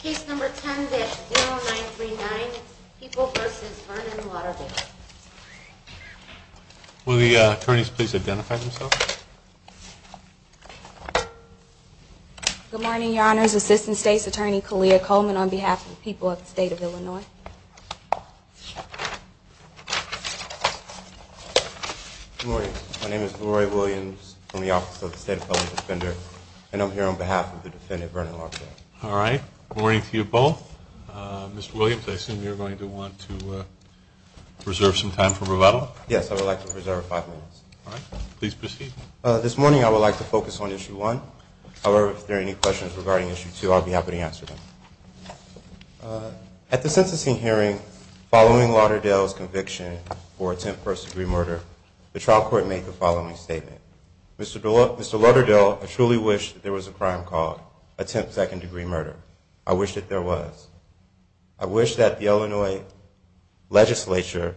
Case number 10-00939, People v. Vernon Lauderdale. Will the attorneys please identify themselves? Good morning, Your Honors. Assistant State's Attorney, Kaleah Coleman, on behalf of the people of the state of Illinois. Good morning. My name is Leroy Williams from the Office of the State Appellant Defender, and I'm here on behalf of the defendant, Vernon Lauderdale. All right, good morning to you both. Mr. Williams, I assume you're going to want to reserve some time for rebuttal? Yes, I would like to reserve five minutes. All right, please proceed. This morning I would like to focus on Issue 1. However, if there are any questions regarding Issue 2, I'll be happy to answer them. At the sentencing hearing following Lauderdale's conviction for attempt first degree murder, the trial court made the following statement. Mr. Lauderdale, I truly wish there was a crime called attempt second degree murder. I wish that there was. I wish that the Illinois legislature,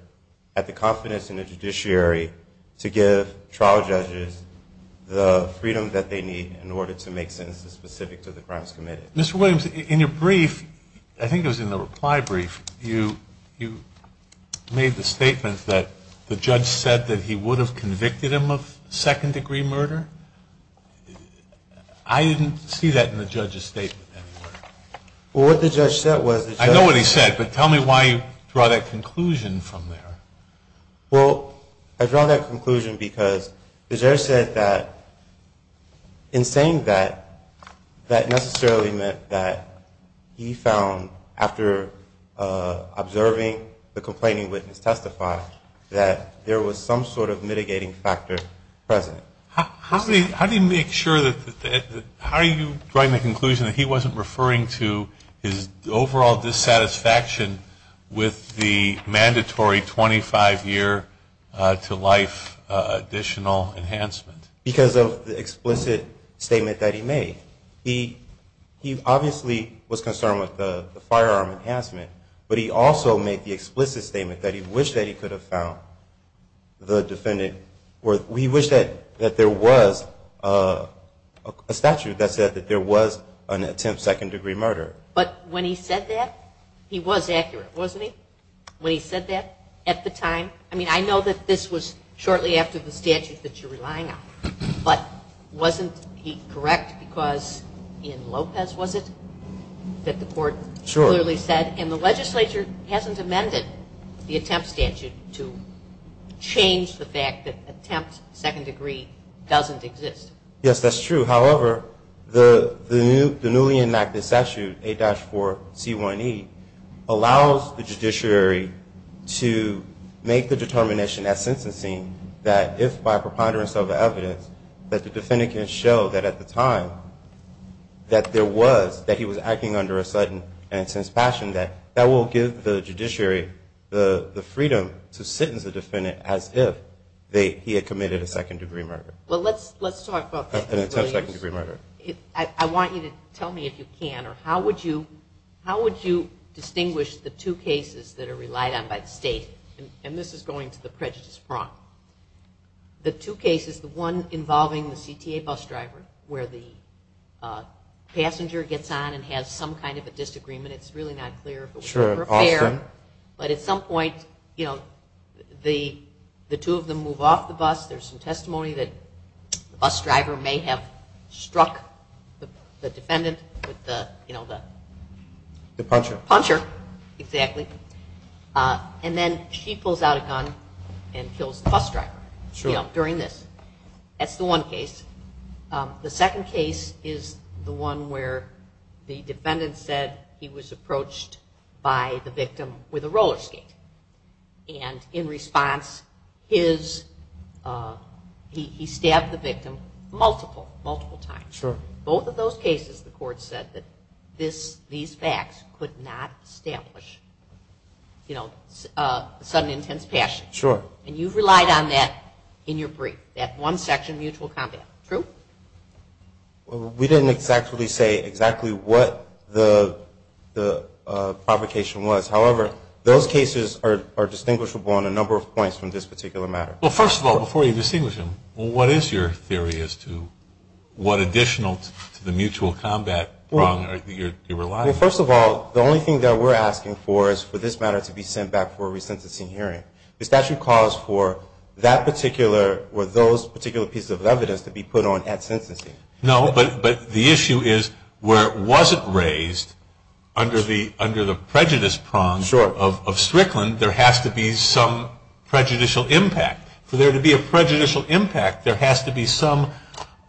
at the confidence in the judiciary, to give trial judges the freedom that they need in order to make sentences specific to the crimes committed. Mr. Williams, in your brief, I think it was in the reply brief, you made the statement that the judge said that he would have convicted him of second degree murder. I didn't see that in the judge's statement anywhere. Well, what the judge said was that the judge said that I know what he said. But tell me why you draw that conclusion from there. Well, I draw that conclusion because the judge said that in saying that, that necessarily meant that he found, after observing the complaining witness testify, that there was some sort of mitigating factor present. How do you make sure that, how do you draw the conclusion that he wasn't referring to his overall dissatisfaction with the mandatory 25 year to life additional enhancement? Because of the explicit statement that he made. He obviously was concerned with the firearm enhancement. But he also made the explicit statement that he wished that he could have found the defendant, or he wished that there was a statute that said that there was an attempt second degree murder. But when he said that, he was accurate, wasn't he? When he said that at the time, I mean, I know that this was shortly after the statute that you're relying on. But wasn't he correct because in Lopez, was it, that the court clearly said, and the legislature hasn't amended the attempt statute to change the fact that attempt second degree doesn't exist? Yes, that's true. However, the newly enacted statute, A-4C1E, allows the judiciary to make the determination at sentencing that if by preponderance of the evidence that the defendant can show that at the time that there was, that he was acting under a sudden and intense passion, that that will give the judiciary the freedom to sentence the defendant as if he had committed a second degree murder. Well, let's talk about that. An attempt second degree murder. I want you to tell me if you can, or how would you distinguish the two cases that are relied on by the state? And this is going to the prejudice front. The two cases, the one involving the CTA bus driver, where the passenger gets on and has some kind of a disagreement. It's really not clear. Sure. But at some point, the two of them move off the bus. There's some testimony that the bus driver may have struck the defendant with the puncher. Exactly. And then she pulls out a gun and kills the bus driver during this. The second case is the one where the defendant said he was approached by the victim with a roller skate. And in response, he stabbed the victim multiple, multiple times. Sure. Both of those cases, the court said that these facts could not establish sudden intense passion. Sure. And you've relied on that in your brief, that one section mutual combat. True? Well, we didn't exactly say exactly what the provocation was. However, those cases are distinguishable on a number of points from this particular matter. Well, first of all, before you distinguish them, what is your theory as to what additional to the mutual combat problem you're relying on? Well, first of all, the only thing that we're asking for is for this matter to be sent back for a resentencing hearing. The statute calls for that particular, or those particular pieces of evidence to be put on at sentencing. No, but the issue is where it wasn't raised, under the prejudice prong of Strickland, there has to be some prejudicial impact. For there to be a prejudicial impact, there has to be some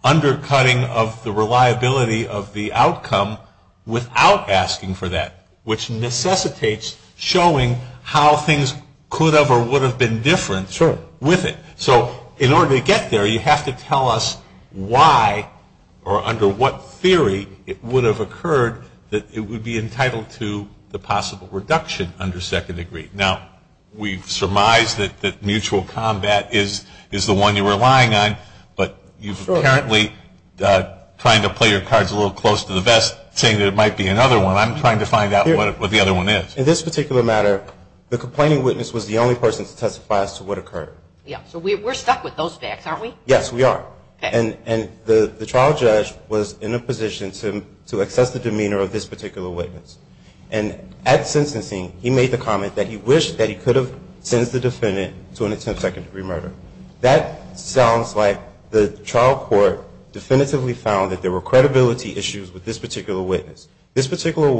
undercutting of the reliability of the outcome without asking for that, which necessitates showing how things could have or would have been different with it. So in order to get there, you have to tell us why or under what theory it would have occurred that it would be entitled to the possible reduction under second degree. Now, we've surmised that mutual combat is the one you're relying on. But you're apparently trying to play your cards a little close to the vest, saying that it might be another one. I'm trying to find out what the other one is. In this particular matter, the complaining witness was the only person to testify as to what occurred. So we're stuck with those facts, aren't we? Yes, we are. And the trial judge was in a position to assess the demeanor of this particular witness. And at sentencing, he made the comment that he wished that he could have sent the defendant to an attempt of second degree murder. That sounds like the trial court definitively found that there were credibility issues with this particular witness. This particular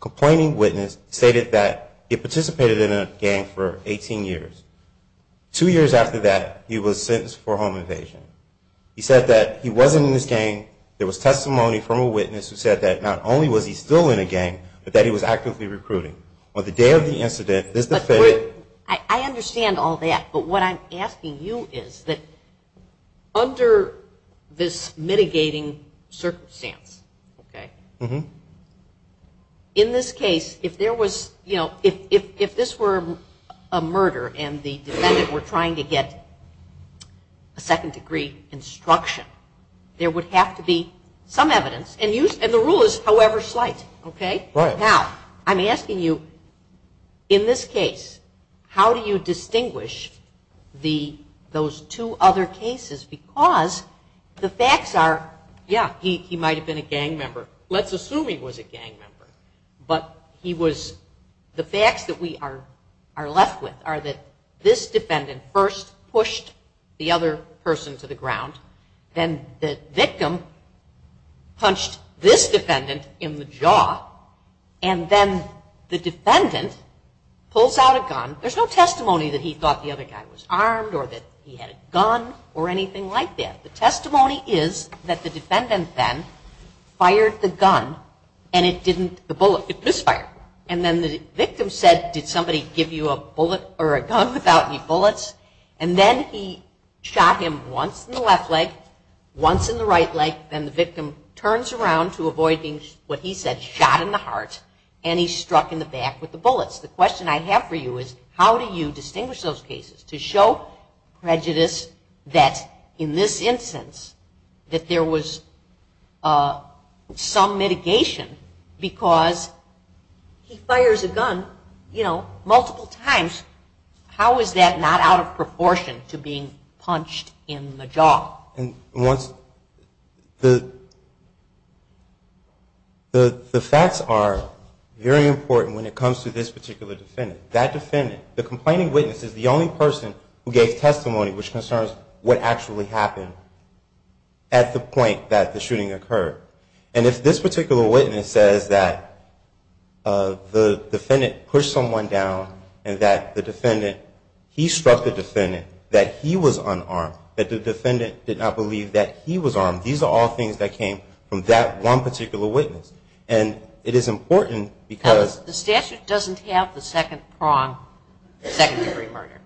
complaining witness stated that he participated in a gang for 18 years. Two years after that, he was sentenced for home invasion. He said that he wasn't in this gang. There was testimony from a witness who said that not only was he still in a gang, but that he was actively recruiting. On the day of the incident, this defendant- I understand all that. But what I'm asking you is that under this mitigating circumstance, in this case, if this were a murder and the defendant were trying to get a second degree instruction, there would have to be some evidence. And the rule is however slight. Now, I'm asking you, in this case, how do you distinguish those two other cases? Because the facts are, yeah, he might have been a gang member. Let's assume he was a gang member. But the facts that we are left with are that this defendant first pushed the other person to the ground. Then the victim punched this defendant in the jaw. And then the defendant pulls out a gun. There's no testimony that he thought the other guy was armed or that he had a gun or anything like that. The testimony is that the defendant then fired the gun. And it didn't, the bullet, it misfired. And then the victim said, did somebody give you a bullet or a gun without any bullets? And then he shot him once in the left leg, once in the right leg. Then the victim turns around to avoid being, what he said, shot in the heart. And he struck in the back with the bullets. The question I have for you is, how do you distinguish those cases? To show prejudice that, in this instance, that there was some mitigation because he fires a gun multiple times. How is that not out of proportion to being punched in the jaw? And once the facts are very important when it comes to this particular defendant, that defendant, the complaining witness is the only person who gave testimony which concerns what actually happened at the point that the shooting occurred. And if this particular witness says that the defendant pushed someone down and that the defendant, he struck the defendant, that he was unarmed, that the defendant did not believe that he was armed, these are all things that came from that one particular witness. And it is important because the statute doesn't have the second prong, second degree murder,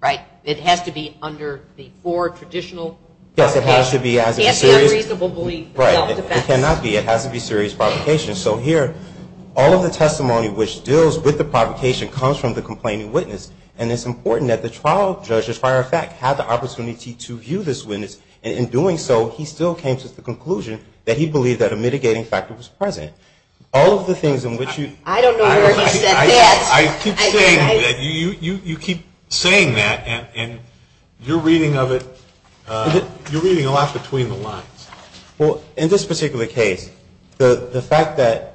right? It has to be under the four traditional. Yes, it has to be. It can't be unreasonably self-defense. It cannot be. It has to be serious provocation. So here, all of the testimony which deals with the provocation comes from the complaining witness. And it's important that the trial judge, as a matter of fact, had the opportunity to view this witness. And in doing so, he still came to the conclusion that he believed that a mitigating factor was present. All of the things in which you. I don't know where he said that. I keep saying that. You keep saying that, and you're reading of it. You're reading a lot between the lines. Well, in this particular case, the fact that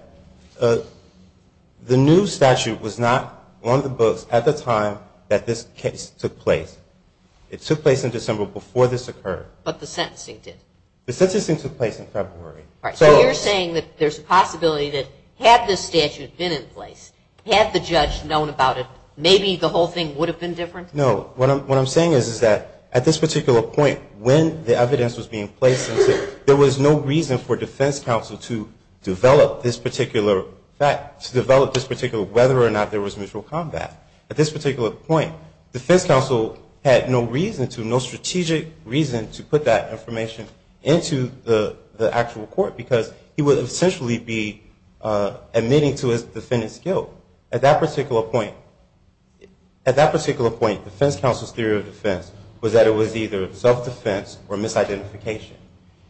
the new statute was not on the books at the time that this case took place. It took place in December before this occurred. But the sentencing did. The sentencing took place in February. So you're saying that there's a possibility that had this statute been in place, had the judge known about it, maybe the whole thing would have been different? No. What I'm saying is that at this particular point, when the evidence was being placed into it, there was no reason for defense counsel to develop this particular fact, to develop this particular whether or not there was mutual combat. At this particular point, defense counsel had no reason to, no strategic reason to put that information into the actual court because he would essentially be admitting to his defendant's guilt. At that particular point, defense counsel's theory of defense was that it was either self-defense or misidentification.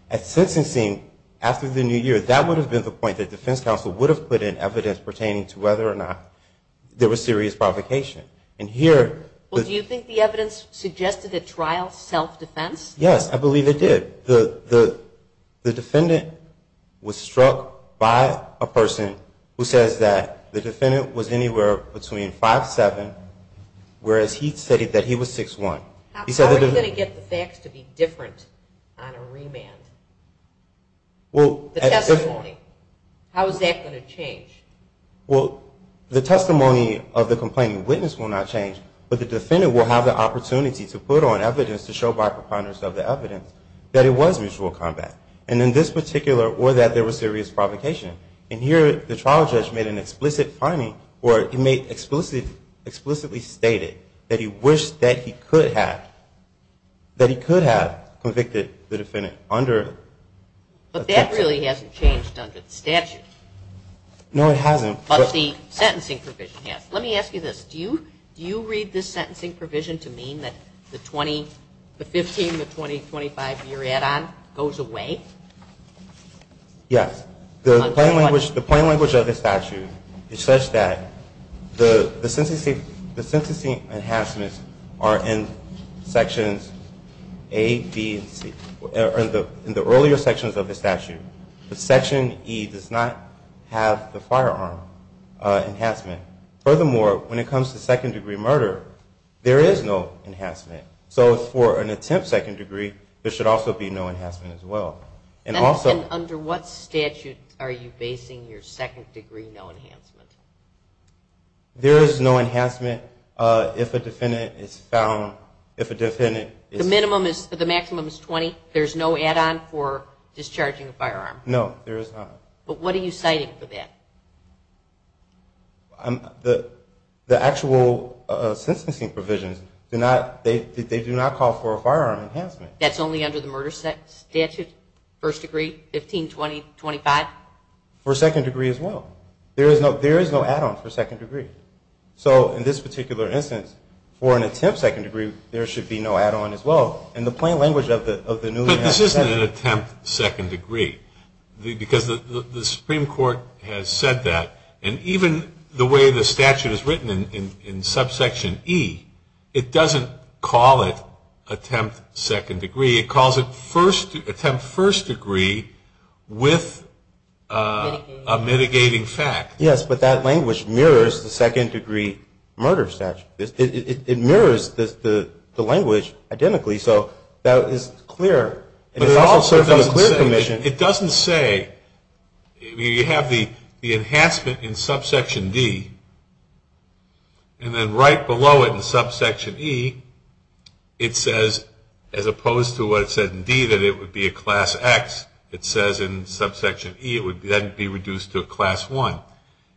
At sentencing, after the New Year, that would have been the point that defense counsel would have put in evidence pertaining to whether or not there was serious provocation. And here, the- Well, do you think the evidence suggested a trial self-defense? Yes, I believe it did. The defendant was struck by a person who says that the defendant was anywhere between 5'7", whereas he stated that he was 6'1". How are you going to get the facts to be different on a remand? Well, at this point. How is that going to change? Well, the testimony of the complaining witness will not change, but the defendant will have the opportunity to put on evidence to show by preponderance of the evidence that it was mutual combat, and in this particular, or that there was serious provocation. And here, the trial judge made an explicit finding, or he made explicitly stated that he wished that he could have convicted the defendant under the statute. But that really hasn't changed under the statute. No, it hasn't. But the sentencing provision has. Let me ask you this. Do you read this sentencing provision to mean that the 15, the 20, 25, your add-on goes away? Yes. The plain language of the statute is such that the sentencing enhancements are in sections A, B, and C. In the earlier sections of the statute, the section E does not have the firearm enhancement. Furthermore, when it comes to second degree murder, there is no enhancement. So for an attempt second degree, there should also be no enhancement as well. And also- Under what statute are you basing your second degree no enhancement? There is no enhancement if a defendant is found, if a defendant is- The minimum is, the maximum is 20? There's no add-on for discharging a firearm? No, there is not. But what are you citing for that? The actual sentencing provisions, they do not call for a firearm enhancement. That's only under the murder statute, first degree, 15, 20, 25? For second degree as well. There is no add-on for second degree. So in this particular instance, for an attempt second degree, there should be no add-on as well. In the plain language of the new- But this isn't an attempt second degree. Because the Supreme Court has said that. And even the way the statute is written in subsection E, it doesn't call it attempt second degree. It calls it attempt first degree with a mitigating fact. Yes, but that language mirrors the second degree murder statute. It mirrors the language identically. So that is clear. It doesn't say, you have the enhancement in subsection D, and then right below it in subsection E, it says as opposed to what it said in D that it would be a class X, it says in subsection E it would then be reduced to a class 1.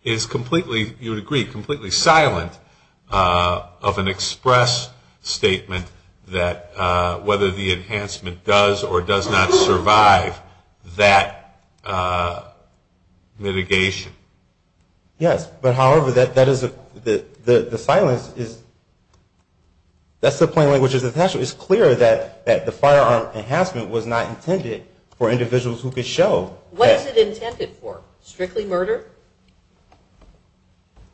It is completely, you would agree, completely silent of an express statement that whether the enhancement does or does not survive that mitigation. Yes, but, however, the silence is- That's the plain language of the statute. It's clear that the firearm enhancement was not intended for individuals who could show- What is it intended for? Strictly murder?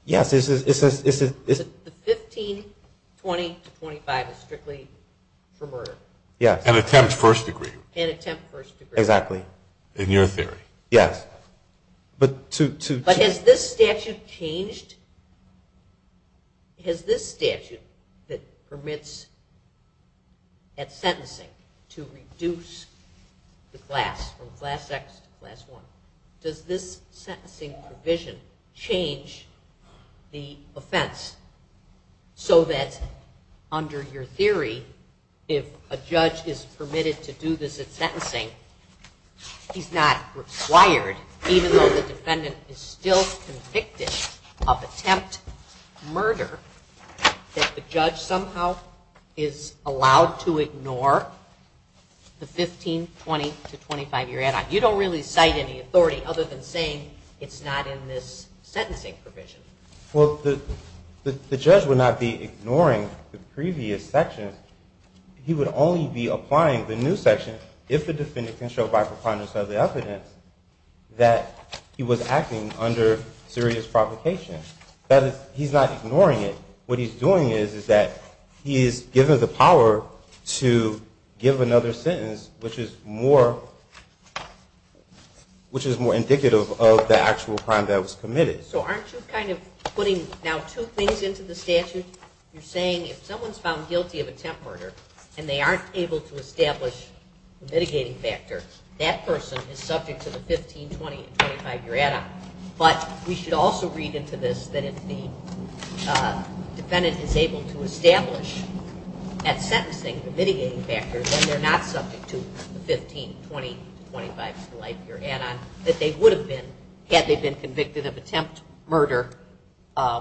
Yes, it's- The 1520 to 25 is strictly for murder. Yes. And attempt first degree. And attempt first degree. Exactly. In your theory. Yes. But to- But has this statute changed? Has this statute that permits at sentencing to reduce the class, from class X to class 1, does this sentencing provision change the offense so that under your theory if a judge is permitted to do this at sentencing he's not required, even though the defendant is still convicted of attempt murder, that the judge somehow is allowed to ignore the 1520 to 25 year add-on? You don't really cite any authority other than saying it's not in this sentencing provision. Well, the judge would not be ignoring the previous section. He would only be applying the new section if the defendant can show by preponderance of the evidence that he was acting under serious provocation. That is, he's not ignoring it. What he's doing is that he is given the power to give another sentence, which is more indicative of the actual crime that was committed. So aren't you kind of putting now two things into the statute? You're saying if someone's found guilty of attempt murder and they aren't able to establish the mitigating factor, that person is subject to the 1520 to 25 year add-on. But we should also read into this that if the defendant is able to establish at sentencing the mitigating factor, then they're not subject to the 1520 to 25 year add-on, that they would have been had they been convicted of attempt murder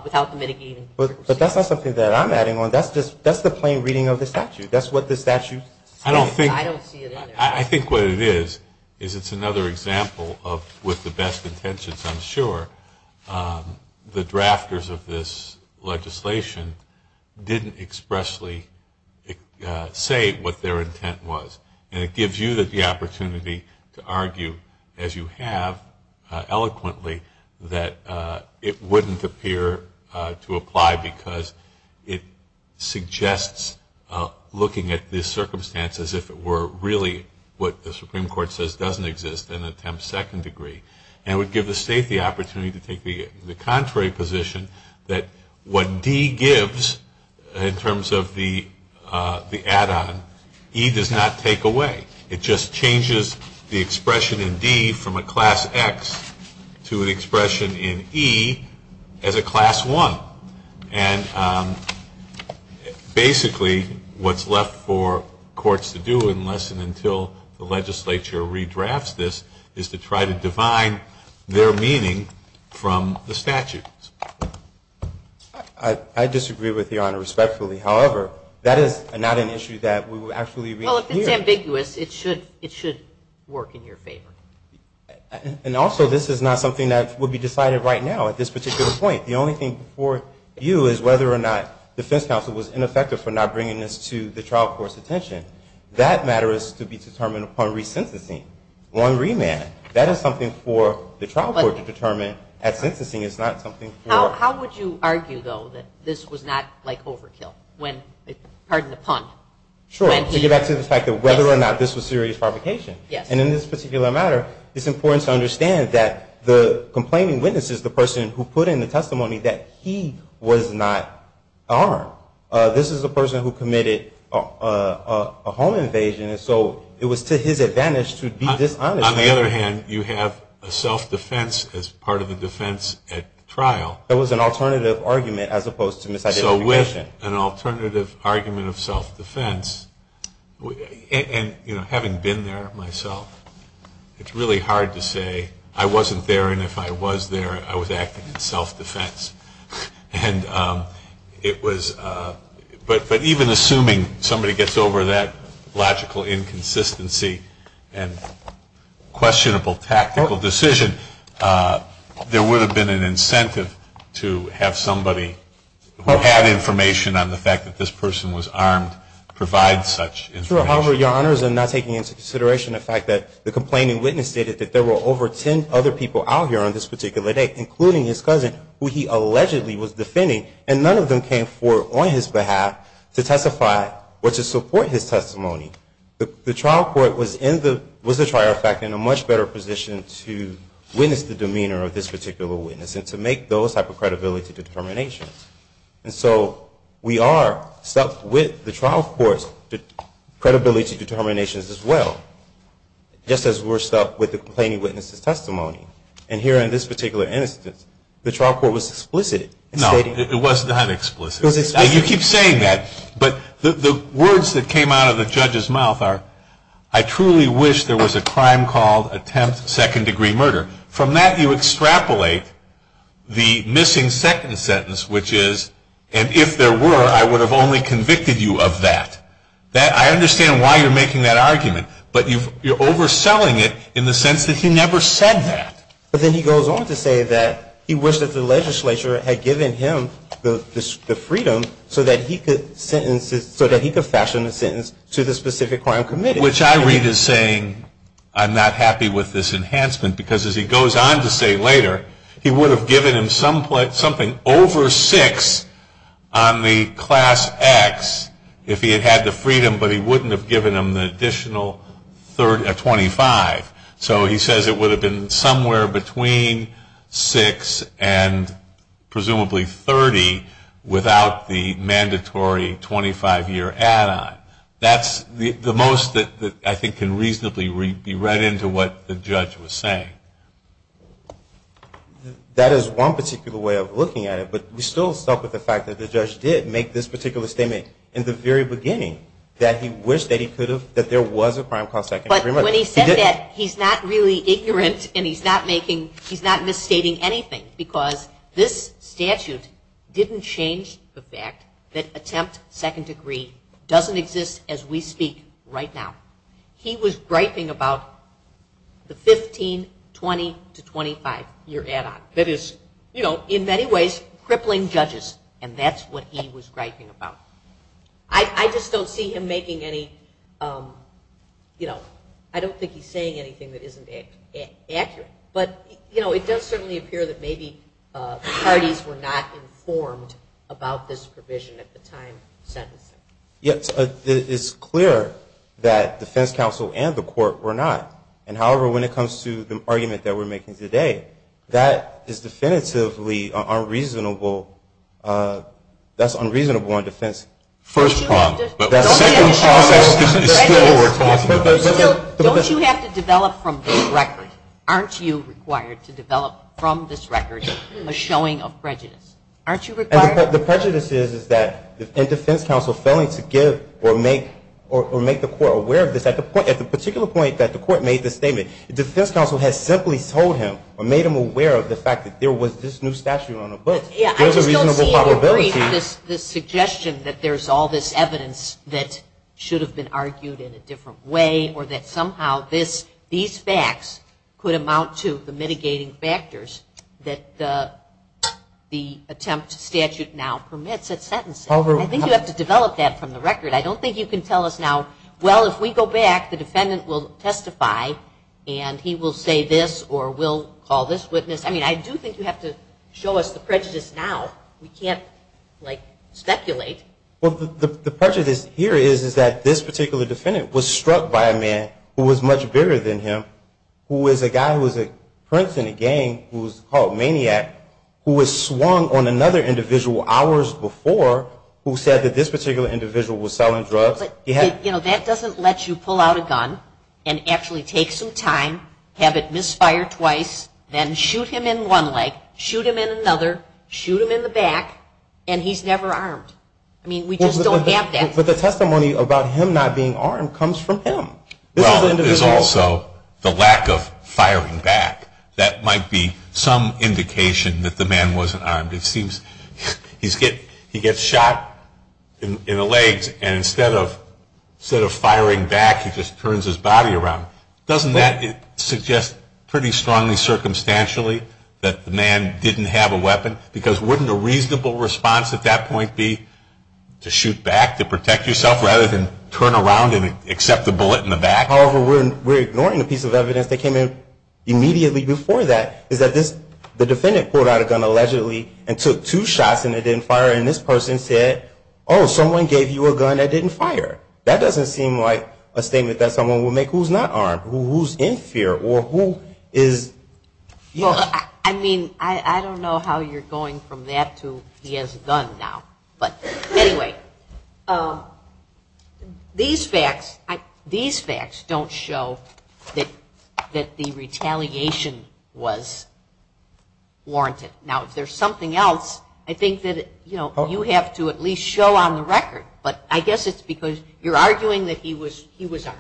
without the mitigating factor. But that's not something that I'm adding on. That's the plain reading of the statute. That's what the statute says. I don't see it in there. I think what it is is it's another example of with the best intentions, I'm sure, the drafters of this legislation didn't expressly say what their intent was. And it gives you the opportunity to argue, as you have eloquently, that it wouldn't appear to apply because it suggests looking at this circumstance as if it were really what the Supreme Court says doesn't exist in an attempt second degree. And it would give the state the opportunity to take the contrary position that what D gives in terms of the add-on, E does not take away. It just changes the expression in D from a class X to an expression in E as a class 1. And basically what's left for courts to do unless and until the legislature redrafts this, is to try to define their meaning from the statute. I disagree with Your Honor respectfully. However, that is not an issue that we would actually re-clear. Well, if it's ambiguous, it should work in your favor. And also, this is not something that would be decided right now at this particular point. The only thing before you is whether or not defense counsel was ineffective for not bringing this to the trial court's attention. That matter is to be determined upon re-sensitizing. One remand. That is something for the trial court to determine. At sentencing, it's not something for... How would you argue, though, that this was not like overkill? Pardon the pun. Sure. To get back to the fact that whether or not this was serious fabrication. Yes. And in this particular matter, it's important to understand that the complaining witness is the person who put in the testimony that he was not armed. This is the person who committed a home invasion. And so it was to his advantage to be dishonest. On the other hand, you have a self-defense as part of the defense at trial. That was an alternative argument as opposed to misidentification. So with an alternative argument of self-defense, and, you know, having been there myself, it's really hard to say, I wasn't there and if I was there, I was acting in self-defense. And it was... But even assuming somebody gets over that logical inconsistency and questionable tactical decision, there would have been an incentive to have somebody who had information on the fact that this person was armed provide such information. Sure. However, Your Honors, I'm not taking into consideration the fact that the complaining witness stated that there were over ten other people out here on this particular day, including his cousin, who he allegedly was defending, and none of them came forward on his behalf to testify or to support his testimony. The trial court was, as a matter of fact, in a much better position to witness the demeanor of this particular witness and to make those type of credibility determinations. And so we are stuck with the trial court's credibility determinations as well, And here in this particular instance, the trial court was explicit in stating... No, it was not explicit. It was explicit. You keep saying that, but the words that came out of the judge's mouth are, I truly wish there was a crime called attempt second-degree murder. From that, you extrapolate the missing second sentence, which is, and if there were, I would have only convicted you of that. I understand why you're making that argument, but you're overselling it in the sense that he never said that. But then he goes on to say that he wished that the legislature had given him the freedom so that he could fashion the sentence to the specific crime committed. Which I read as saying, I'm not happy with this enhancement, because as he goes on to say later, he would have given him something over six on the class X if he had had the freedom, but he wouldn't have given him the additional 25. So he says it would have been somewhere between six and presumably 30 without the mandatory 25-year add-on. That's the most that I think can reasonably be read into what the judge was saying. That is one particular way of looking at it, but we still stuck with the fact that the judge did make this particular statement in the very beginning that he wished that there was a crime called second-degree murder. But when he said that, he's not really ignorant and he's not misstating anything, because this statute didn't change the fact that attempt second-degree doesn't exist as we speak right now. He was griping about the 15-20 to 25-year add-on. That is, you know, in many ways crippling judges, and that's what he was griping about. I just don't see him making any, you know, I don't think he's saying anything that isn't accurate. But, you know, it does certainly appear that maybe parties were not informed about this provision at the time sentencing. Yes, it's clear that defense counsel and the court were not. And, however, when it comes to the argument that we're making today, that is definitively unreasonable. That's unreasonable on defense. First part. But the second part is still. Don't you have to develop from this record? Aren't you required to develop from this record a showing of prejudice? Aren't you required? The prejudice is that defense counsel failing to give or make the court aware of this. At the particular point that the court made this statement, defense counsel has simply told him or made him aware of the fact that there was this new statute on the books. There's a reasonable probability. I just don't see him agreeing with this suggestion that there's all this evidence that should have been argued in a different way or that somehow these facts could amount to the mitigating factors that the attempt to statute now permits at sentencing. I think you have to develop that from the record. I don't think you can tell us now, well, if we go back, the defendant will testify and he will say this or we'll call this witness. I mean, I do think you have to show us the prejudice now. We can't, like, speculate. Well, the prejudice here is that this particular defendant was struck by a man who was much bigger than him, who was a guy who was a prince in a gang who was called maniac, who was swung on another individual hours before, who said that this particular individual was selling drugs. You know, that doesn't let you pull out a gun and actually take some time, have it misfire twice, then shoot him in one leg, shoot him in another, shoot him in the back, and he's never armed. I mean, we just don't have that. But the testimony about him not being armed comes from him. Well, there's also the lack of firing back. That might be some indication that the man wasn't armed. It seems he gets shot in the legs, and instead of firing back, he just turns his body around. Doesn't that suggest pretty strongly circumstantially that the man didn't have a weapon? Because wouldn't a reasonable response at that point be to shoot back, to protect yourself, rather than turn around and accept the bullet in the back? However, we're ignoring a piece of evidence that came in immediately before that, is that the defendant pulled out a gun allegedly and took two shots and it didn't fire, and this person said, oh, someone gave you a gun that didn't fire. That doesn't seem like a statement that someone would make who's not armed, who's in fear, or who is. Well, I mean, I don't know how you're going from that to he has a gun now. But anyway, these facts don't show that the retaliation was warranted. Now, if there's something else, I think that you have to at least show on the record, but I guess it's because you're arguing that he was armed.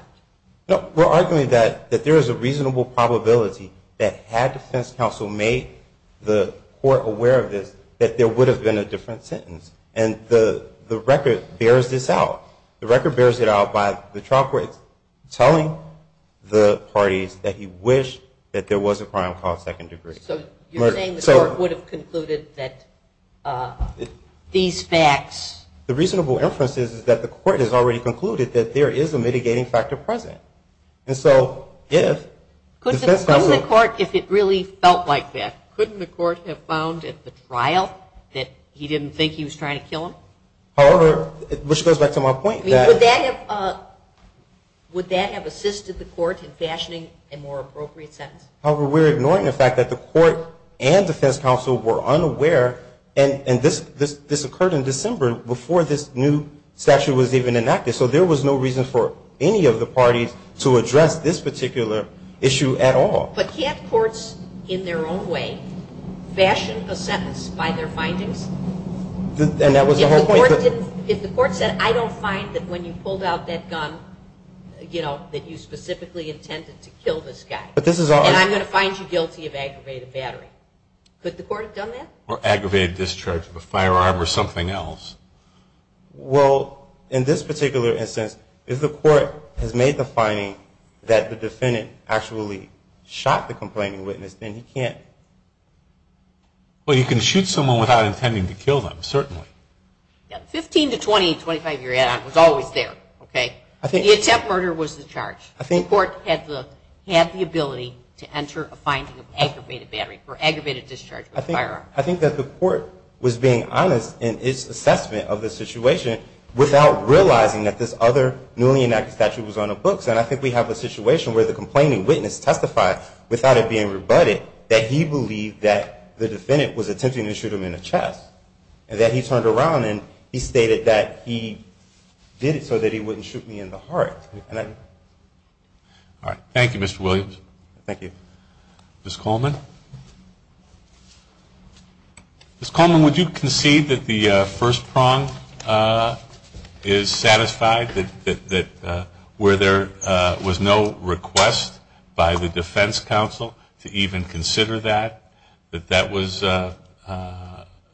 No, we're arguing that there is a reasonable probability that had defense counsel made the court aware of this, that there would have been a different sentence. And the record bears this out. The record bears it out by the trial court telling the parties that he wished that there was a crime caused second degree. So you're saying the court would have concluded that these facts – The reasonable inference is that the court has already concluded that there is a mitigating factor present. And so if – Couldn't the court, if it really felt like that, couldn't the court have found at the trial that he didn't think he was trying to kill him? However, which goes back to my point that – Would that have assisted the court in fashioning a more appropriate sentence? However, we're ignoring the fact that the court and defense counsel were unaware, and this occurred in December before this new statute was even enacted. So there was no reason for any of the parties to address this particular issue at all. But can't courts, in their own way, fashion a sentence by their findings? And that was the whole point. If the court said, I don't find that when you pulled out that gun, you know, that you specifically intended to kill this guy, and I'm going to find you guilty of aggravated battery, could the court have done that? Or aggravated discharge of a firearm or something else. Well, in this particular instance, if the court has made the finding that the defendant actually shot the complaining witness, then he can't – Well, you can shoot someone without intending to kill them, certainly. Fifteen to 20, 25-year add-on was always there, okay? The attempt murder was the charge. The court had the ability to enter a finding of aggravated battery or aggravated discharge of a firearm. I think that the court was being honest in its assessment of the situation without realizing that this other newly enacted statute was on the books. And I think we have a situation where the complaining witness testified, without it being rebutted, that he believed that the defendant was attempting to shoot him in the chest. And that he turned around and he stated that he did it so that he wouldn't shoot me in the heart. All right. Thank you, Mr. Williams. Thank you. Ms. Coleman? Ms. Coleman, would you concede that the first prong is satisfied, that where there was no request by the defense counsel to even consider that, that that was an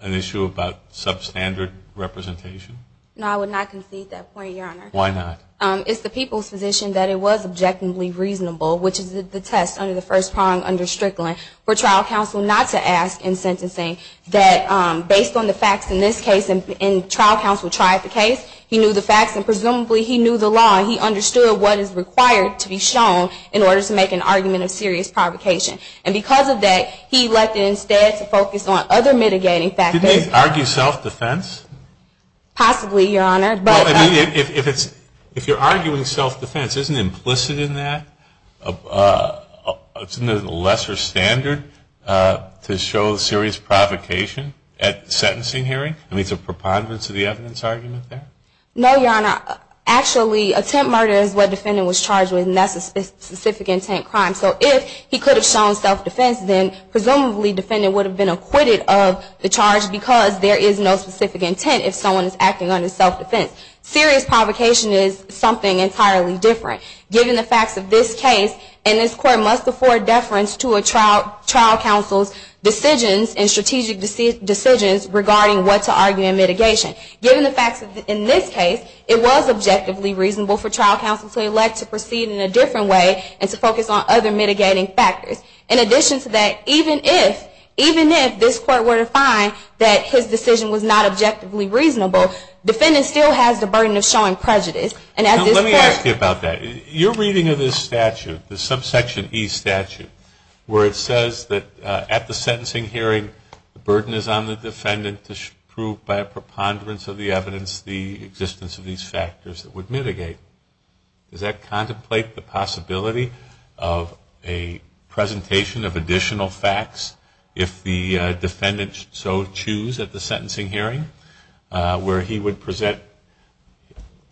issue about substandard representation? No, I would not concede that point, Your Honor. Why not? It's the people's position that it was objectively reasonable, which is the test under the first prong under Strickland, for trial counsel not to ask in sentencing that based on the facts in this case, and trial counsel tried the case, he knew the facts and presumably he knew the law and he understood what is required to be shown in order to make an argument of serious provocation. And because of that, he elected instead to focus on other mitigating factors. Did they argue self-defense? Possibly, Your Honor. If you're arguing self-defense, isn't it implicit in that? Isn't it a lesser standard to show serious provocation at the sentencing hearing? I mean, it's a preponderance of the evidence argument there? No, Your Honor. Actually, attempt murder is what the defendant was charged with, and that's a specific intent crime. So if he could have shown self-defense, then presumably the defendant would have been acquitted of the charge because there is no specific intent if someone is acting under self-defense. Serious provocation is something entirely different. Given the facts of this case, and this Court must afford deference to a trial counsel's decisions and strategic decisions regarding what to argue in mitigation. Given the facts in this case, it was objectively reasonable for trial counsel to elect to proceed in a different way and to focus on other mitigating factors. In addition to that, even if this Court were to find that his decision was not objectively reasonable, the defendant still has the burden of showing prejudice. Let me ask you about that. You're reading of this statute, the subsection E statute, where it says that at the sentencing hearing, the burden is on the defendant to prove by a preponderance of the evidence the existence of these factors that would mitigate. Does that contemplate the possibility of a presentation of additional facts if the defendant so choose at the sentencing hearing, where he would present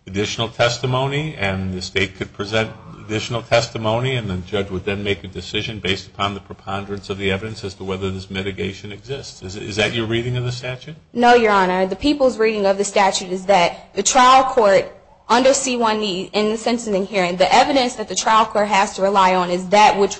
additional testimony and the State could present additional testimony and the judge would then make a decision based upon the preponderance of the evidence as to whether this mitigation exists? Is that your reading of the statute? No, Your Honor. The people's reading of the statute is that the trial court under C-1E in the sentencing hearing, the evidence that the trial court has to rely on is that which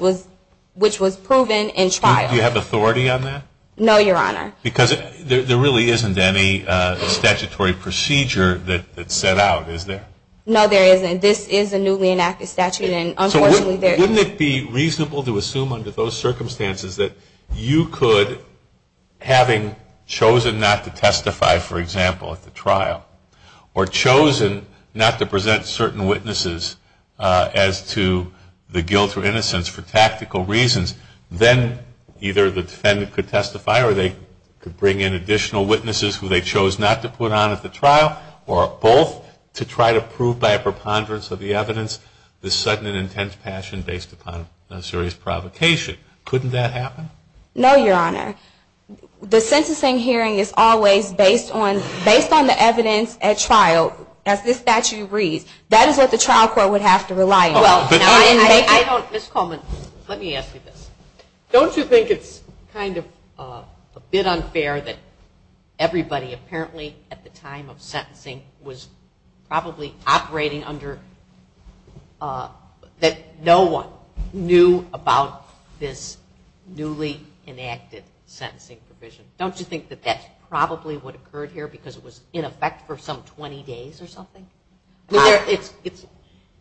was proven in trial. Do you have authority on that? No, Your Honor. Because there really isn't any statutory procedure that's set out, is there? No, there isn't. This is a newly enacted statute. So wouldn't it be reasonable to assume under those circumstances that you could, having chosen not to testify, for example, at the trial, or chosen not to present certain witnesses as to the guilt or innocence for tactical reasons, then either the defendant could testify or they could bring in additional witnesses who they chose not to put on at the trial or both to try to prove by a preponderance of the evidence this sudden and intense passion based upon a serious provocation. Couldn't that happen? No, Your Honor. The sentencing hearing is always based on the evidence at trial, as this statute reads. That is what the trial court would have to rely on. Ms. Coleman, let me ask you this. Don't you think it's kind of a bit unfair that everybody apparently at the time of sentencing was probably operating under, that no one knew about this newly enacted sentencing provision? Don't you think that that's probably what occurred here because it was in effect for some 20 days or something?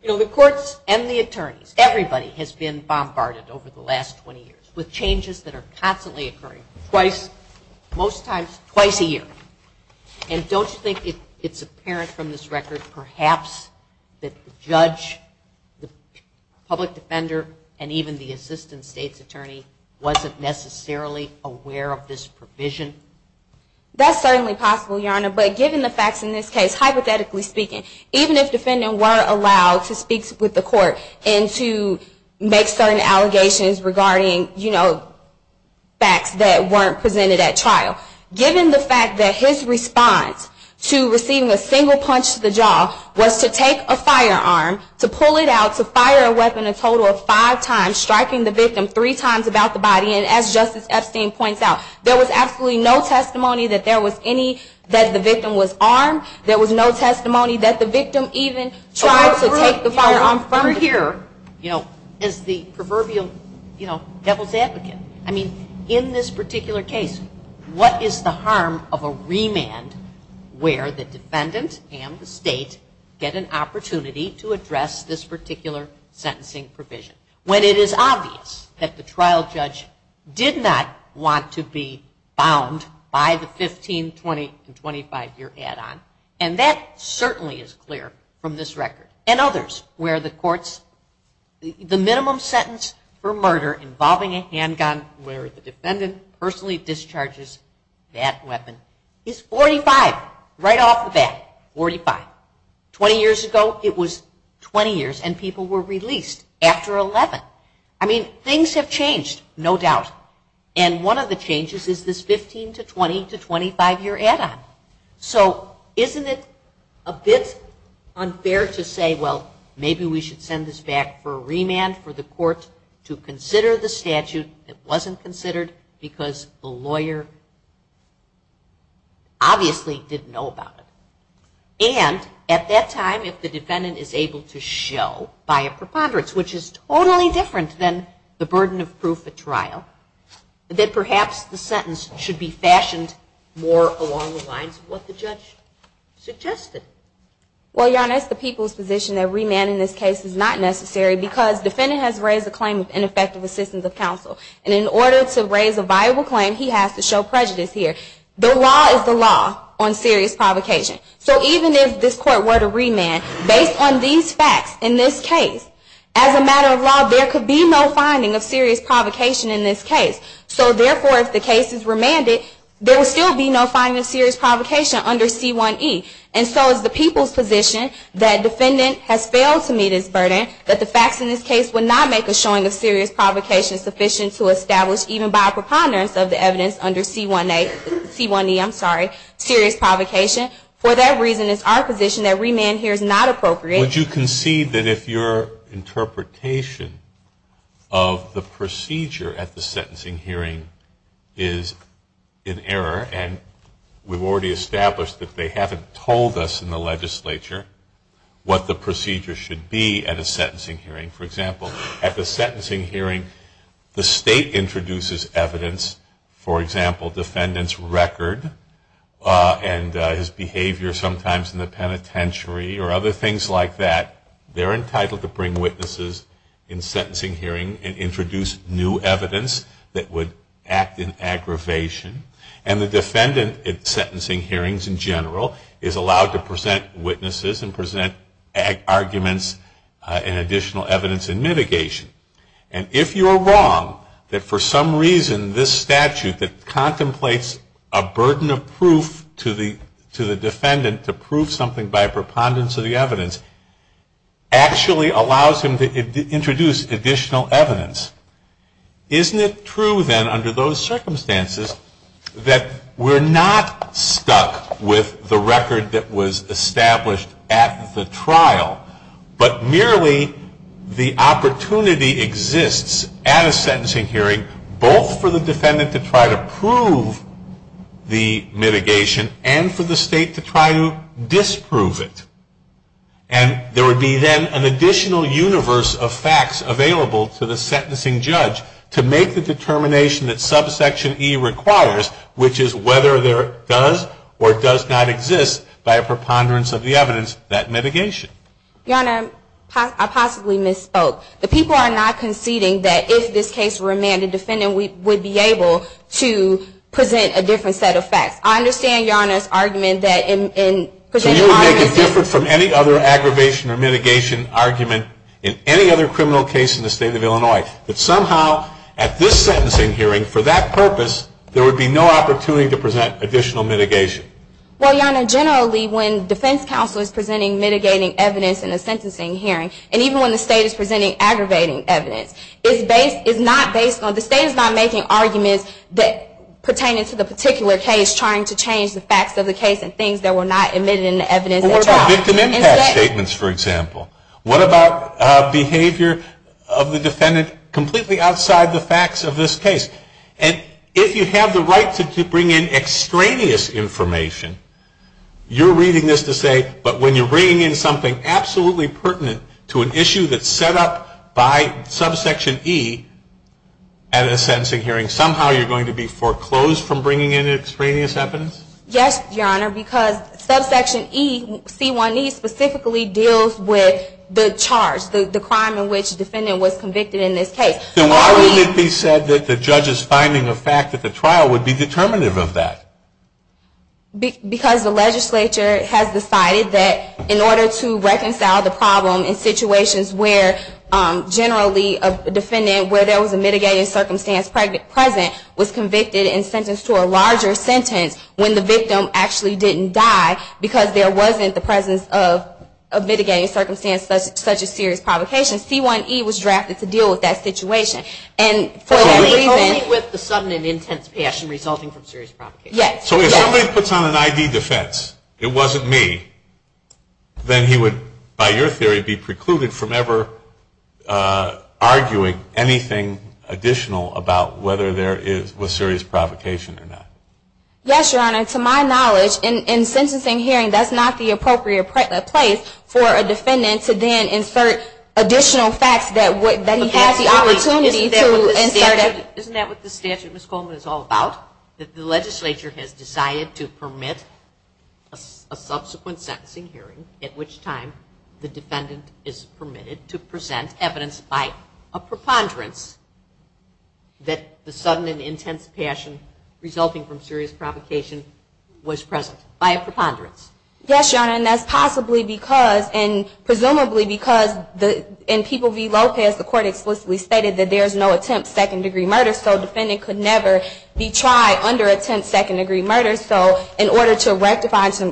You know, the courts and the attorneys, everybody has been bombarded over the last 20 years with changes that are constantly occurring, most times twice a year. And don't you think it's apparent from this record perhaps that the judge, the public defender, and even the assistant state's attorney wasn't necessarily aware of this provision? That's certainly possible, Your Honor. But given the facts in this case, hypothetically speaking, even if defendants were allowed to speak with the court and to make certain allegations regarding, you know, facts that weren't presented at trial, given the fact that his response to receiving a single punch to the jaw was to take a firearm, to pull it out, to fire a weapon a total of five times, striking the victim three times about the body, and as Justice Epstein points out, there was absolutely no testimony that there was any, that the victim was armed. There was no testimony that the victim even tried to take the firearm from the victim. Over here, you know, as the proverbial, you know, devil's advocate, I mean, in this particular case, what is the harm of a remand where the defendant and the state get an opportunity to address this particular sentencing provision when it is obvious that the trial judge did not want to be bound by the 15, 20, and 25-year add-on? And that certainly is clear from this record. And others where the courts, the minimum sentence for murder involving a handgun where the defendant personally discharges that weapon is 45, right off the bat, 45. Twenty years ago, it was 20 years, and people were released after 11. I mean, things have changed, no doubt, and one of the changes is this 15 to 20 to 25-year add-on. So isn't it a bit unfair to say, well, maybe we should send this back for a remand for the court to consider the statute that wasn't considered because the lawyer obviously didn't know about it. And at that time, if the defendant is able to show by a preponderance, which is totally different than the burden of proof at trial, that perhaps the sentence should be fashioned more along the lines of what the judge suggested. Well, Your Honor, it's the people's position that remanding this case is not necessary because the defendant has raised a claim of ineffective assistance of counsel. And in order to raise a viable claim, he has to show prejudice here. The law is the law on serious provocation. So even if this court were to remand, based on these facts in this case, as a matter of law, there could be no finding of serious provocation in this case. So therefore, if the case is remanded, there would still be no finding of serious provocation under C1E. And so it's the people's position that the defendant has failed to meet his burden, that the facts in this case would not make a showing of serious provocation sufficient to establish even by a preponderance of the evidence under C1E serious provocation. For that reason, it's our position that remand here is not appropriate. Would you concede that if your interpretation of the procedure at the sentencing hearing is in error, and we've already established that they haven't told us in the legislature what the procedure should be at a sentencing hearing. For example, at the sentencing hearing, the state introduces evidence, for example, defendant's record and his behavior sometimes in the penitentiary or other things like that, they're entitled to bring witnesses in sentencing hearing and introduce new evidence that would act in aggravation. And the defendant at sentencing hearings in general is allowed to present witnesses and present arguments and additional evidence in mitigation. And if you are wrong that for some reason this statute that contemplates a burden of proof to the defendant to prove something by preponderance of the evidence actually allows him to introduce additional evidence, isn't it true then under those circumstances that we're not stuck with the record that was established at the trial, but merely the opportunity exists at a sentencing hearing both for the defendant to try to prove the mitigation and for the state to try to disprove it? And there would be then an additional universe of facts available to the sentencing judge to make the determination that subsection E requires, which is whether it does or does not exist by a preponderance of the evidence, that mitigation. Your Honor, I possibly misspoke. The people are not conceding that if this case were amended, defendant would be able to present a different set of facts. I understand Your Honor's argument that in presenting arguments. So you would make it different from any other aggravation or mitigation argument in any other criminal case in the state of Illinois, that somehow at this sentencing hearing for that purpose there would be no opportunity to present additional mitigation? Well, Your Honor, generally when defense counsel is presenting mitigating evidence in a sentencing hearing, and even when the state is presenting aggravating evidence, the state is not making arguments pertaining to the particular case trying to change the facts of the case and things that were not admitted in the evidence. Or victim impact statements, for example. What about behavior of the defendant completely outside the facts of this case? And if you have the right to bring in extraneous information, you're reading this to say, but when you're bringing in something absolutely pertinent to an issue that's set up by subsection E at a sentencing hearing, somehow you're going to be foreclosed from bringing in extraneous evidence? Yes, Your Honor, because subsection E, C1E, specifically deals with the charge, the crime in which the defendant was convicted in this case. Then why wouldn't it be said that the judge is finding a fact that the trial would be determinative of that? Because the legislature has decided that in order to reconcile the problem in situations where generally a defendant, where there was a mitigating circumstance present, was convicted and sentenced to a larger sentence when the victim actually didn't die because there wasn't the presence of a mitigating circumstance such as serious provocation, C1E was drafted to deal with that situation. And for that reason So only with the sudden and intense passion resulting from serious provocation? Yes. So if somebody puts on an ID defense, it wasn't me, then he would, by your theory, be precluded from ever arguing anything additional about whether there was serious provocation or not? Yes, Your Honor. To my knowledge, in a sentencing hearing, that's not the appropriate place for a defendant to then insert additional facts that he has the opportunity to insert. Isn't that what the statute, Ms. Coleman, is all about? That the legislature has decided to permit a subsequent sentencing hearing at which time the defendant is permitted to present evidence by a preponderance that the sudden and intense passion resulting from serious provocation was present by a preponderance? Yes, Your Honor. And that's possibly because, and presumably because, in People v. Lopez, the court explicitly stated that there is no attempt second-degree murder, so a defendant could never be tried under attempt second-degree murder. So in order to reconcile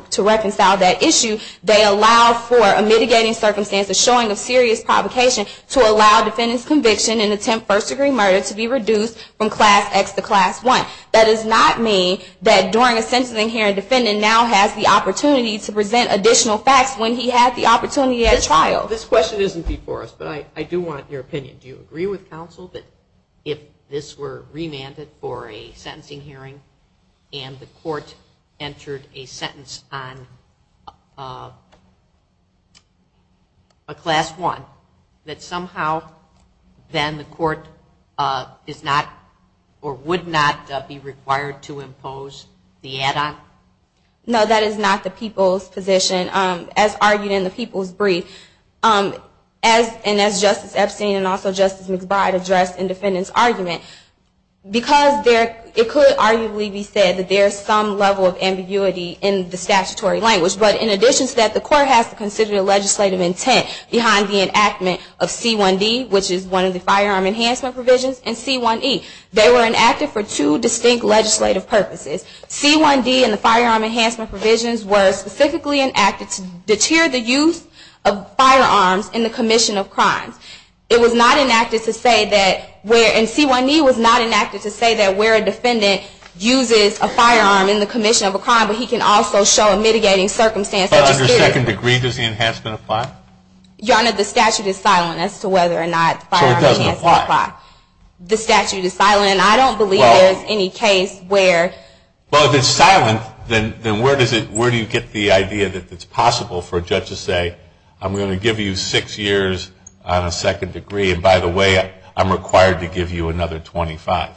that issue, they allow for a mitigating circumstance, a showing of serious provocation, to allow a defendant's conviction in attempt first-degree murder to be reduced from Class X to Class 1. That does not mean that during a sentencing hearing, a defendant now has the opportunity to present additional facts when he had the opportunity at trial. This question isn't before us, but I do want your opinion. Do you agree with counsel that if this were remanded for a sentencing hearing and the court entered a sentence on a Class 1, that somehow then the court is not or would not be required to impose the add-on? No, that is not the People's position. As argued in the People's brief, and as Justice Epstein and also Justice McBride addressed in the defendant's argument, because it could arguably be said that there is some level of ambiguity in the statutory language, but in addition to that, the court has to consider the legislative intent behind the enactment of C1D, which is one of the firearm enhancement provisions, and C1E. They were enacted for two distinct legislative purposes. C1D and the firearm enhancement provisions were specifically enacted to deter the use of firearms in the commission of crimes. It was not enacted to say that where a defendant uses a firearm in the commission of a crime, but he can also show a mitigating circumstance. But under second degree, does the enhancement apply? Your Honor, the statute is silent as to whether or not the firearm enhancement applies. So it doesn't apply? The statute is silent, and I don't believe there is any case where. Well, if it's silent, then where do you get the idea that it's possible for a judge to say, I'm going to give you six years on a second degree, and by the way, I'm required to give you another 25?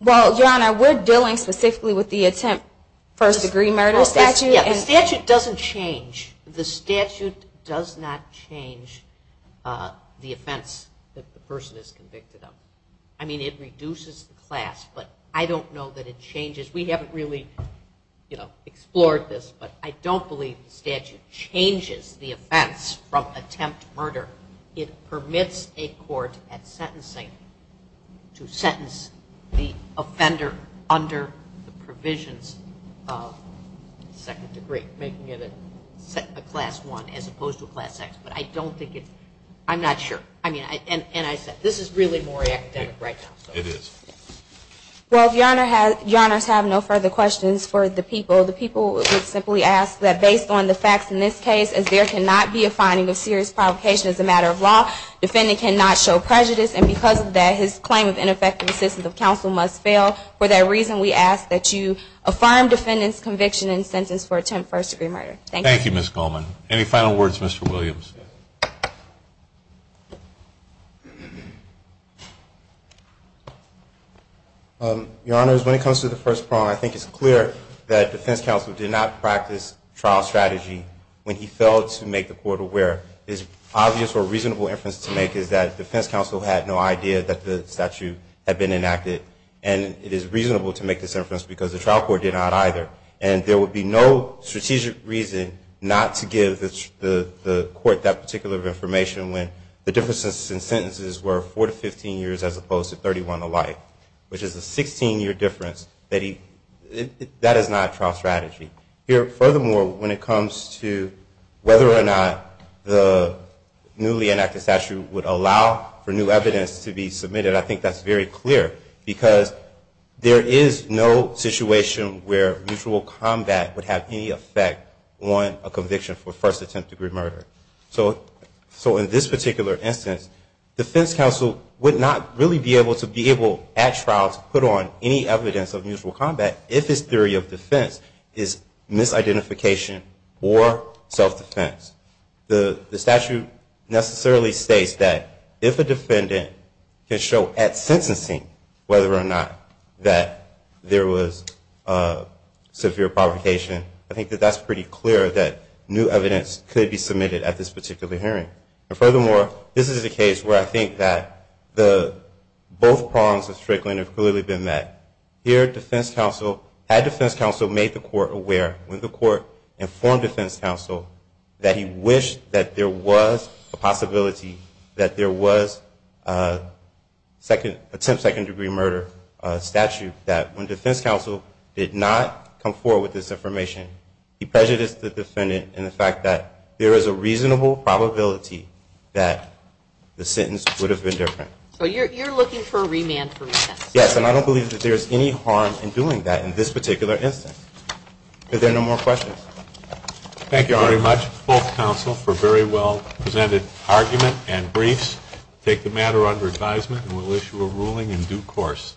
Well, Your Honor, we're dealing specifically with the attempt first degree murder statute. The statute doesn't change. The statute does not change the offense that the person is convicted of. I mean, it reduces the class, but I don't know that it changes. We haven't really explored this, but I don't believe the statute changes the offense from attempt murder. It permits a court at sentencing to sentence the offender under the provisions of second degree, making it a class I as opposed to a class X. But I don't think it's ñ I'm not sure. I mean, and I said this is really more academic right now. It is. Well, if Your Honor has no further questions for the people, the people would simply ask that based on the facts in this case, as there cannot be a finding of serious provocation as a matter of law, defendant cannot show prejudice, and because of that, his claim of ineffective assistance of counsel must fail. For that reason, we ask that you affirm defendant's conviction and sentence for attempt first degree murder. Thank you. Thank you, Ms. Coleman. Any final words, Mr. Williams? Your Honor, when it comes to the first problem, I think it's clear that defense counsel did not practice trial strategy when he failed to make the court aware. His obvious or reasonable inference to make is that defense counsel had no idea that the statute had been enacted, and it is reasonable to make this inference because the trial court did not either. And there would be no strategic reason not to give the court that particular information when the differences in sentences were four to 15 years as opposed to 31 alike, which is a 16-year difference. That is not trial strategy. Furthermore, when it comes to whether or not the newly enacted statute would allow for new evidence to be submitted, I think that's very clear because there is no situation where mutual combat would have any effect on a conviction for first attempt degree murder. So in this particular instance, defense counsel would not really be able to be able at trial to put on any evidence of mutual combat if his theory of defense is misidentification or self-defense. The statute necessarily states that if a defendant can show at sentencing whether or not that there was severe provocation, I think that that's pretty clear that new evidence could be submitted at this particular hearing. And furthermore, this is a case where I think that both prongs of Strickland have clearly been met. Here, defense counsel, had defense counsel made the court aware, when the court informed defense counsel that he wished that there was a possibility that there was attempt second degree murder statute, that when defense counsel did not come forward with this information, he prejudiced the defendant in the fact that there is a reasonable probability that the sentence would have been different. So you're looking for a remand for defense? Yes, and I don't believe that there's any harm in doing that in this particular instance. Are there no more questions? Thank you very much, both counsel, for very well presented argument and briefs. Take the matter under advisement and we'll issue a ruling in due course.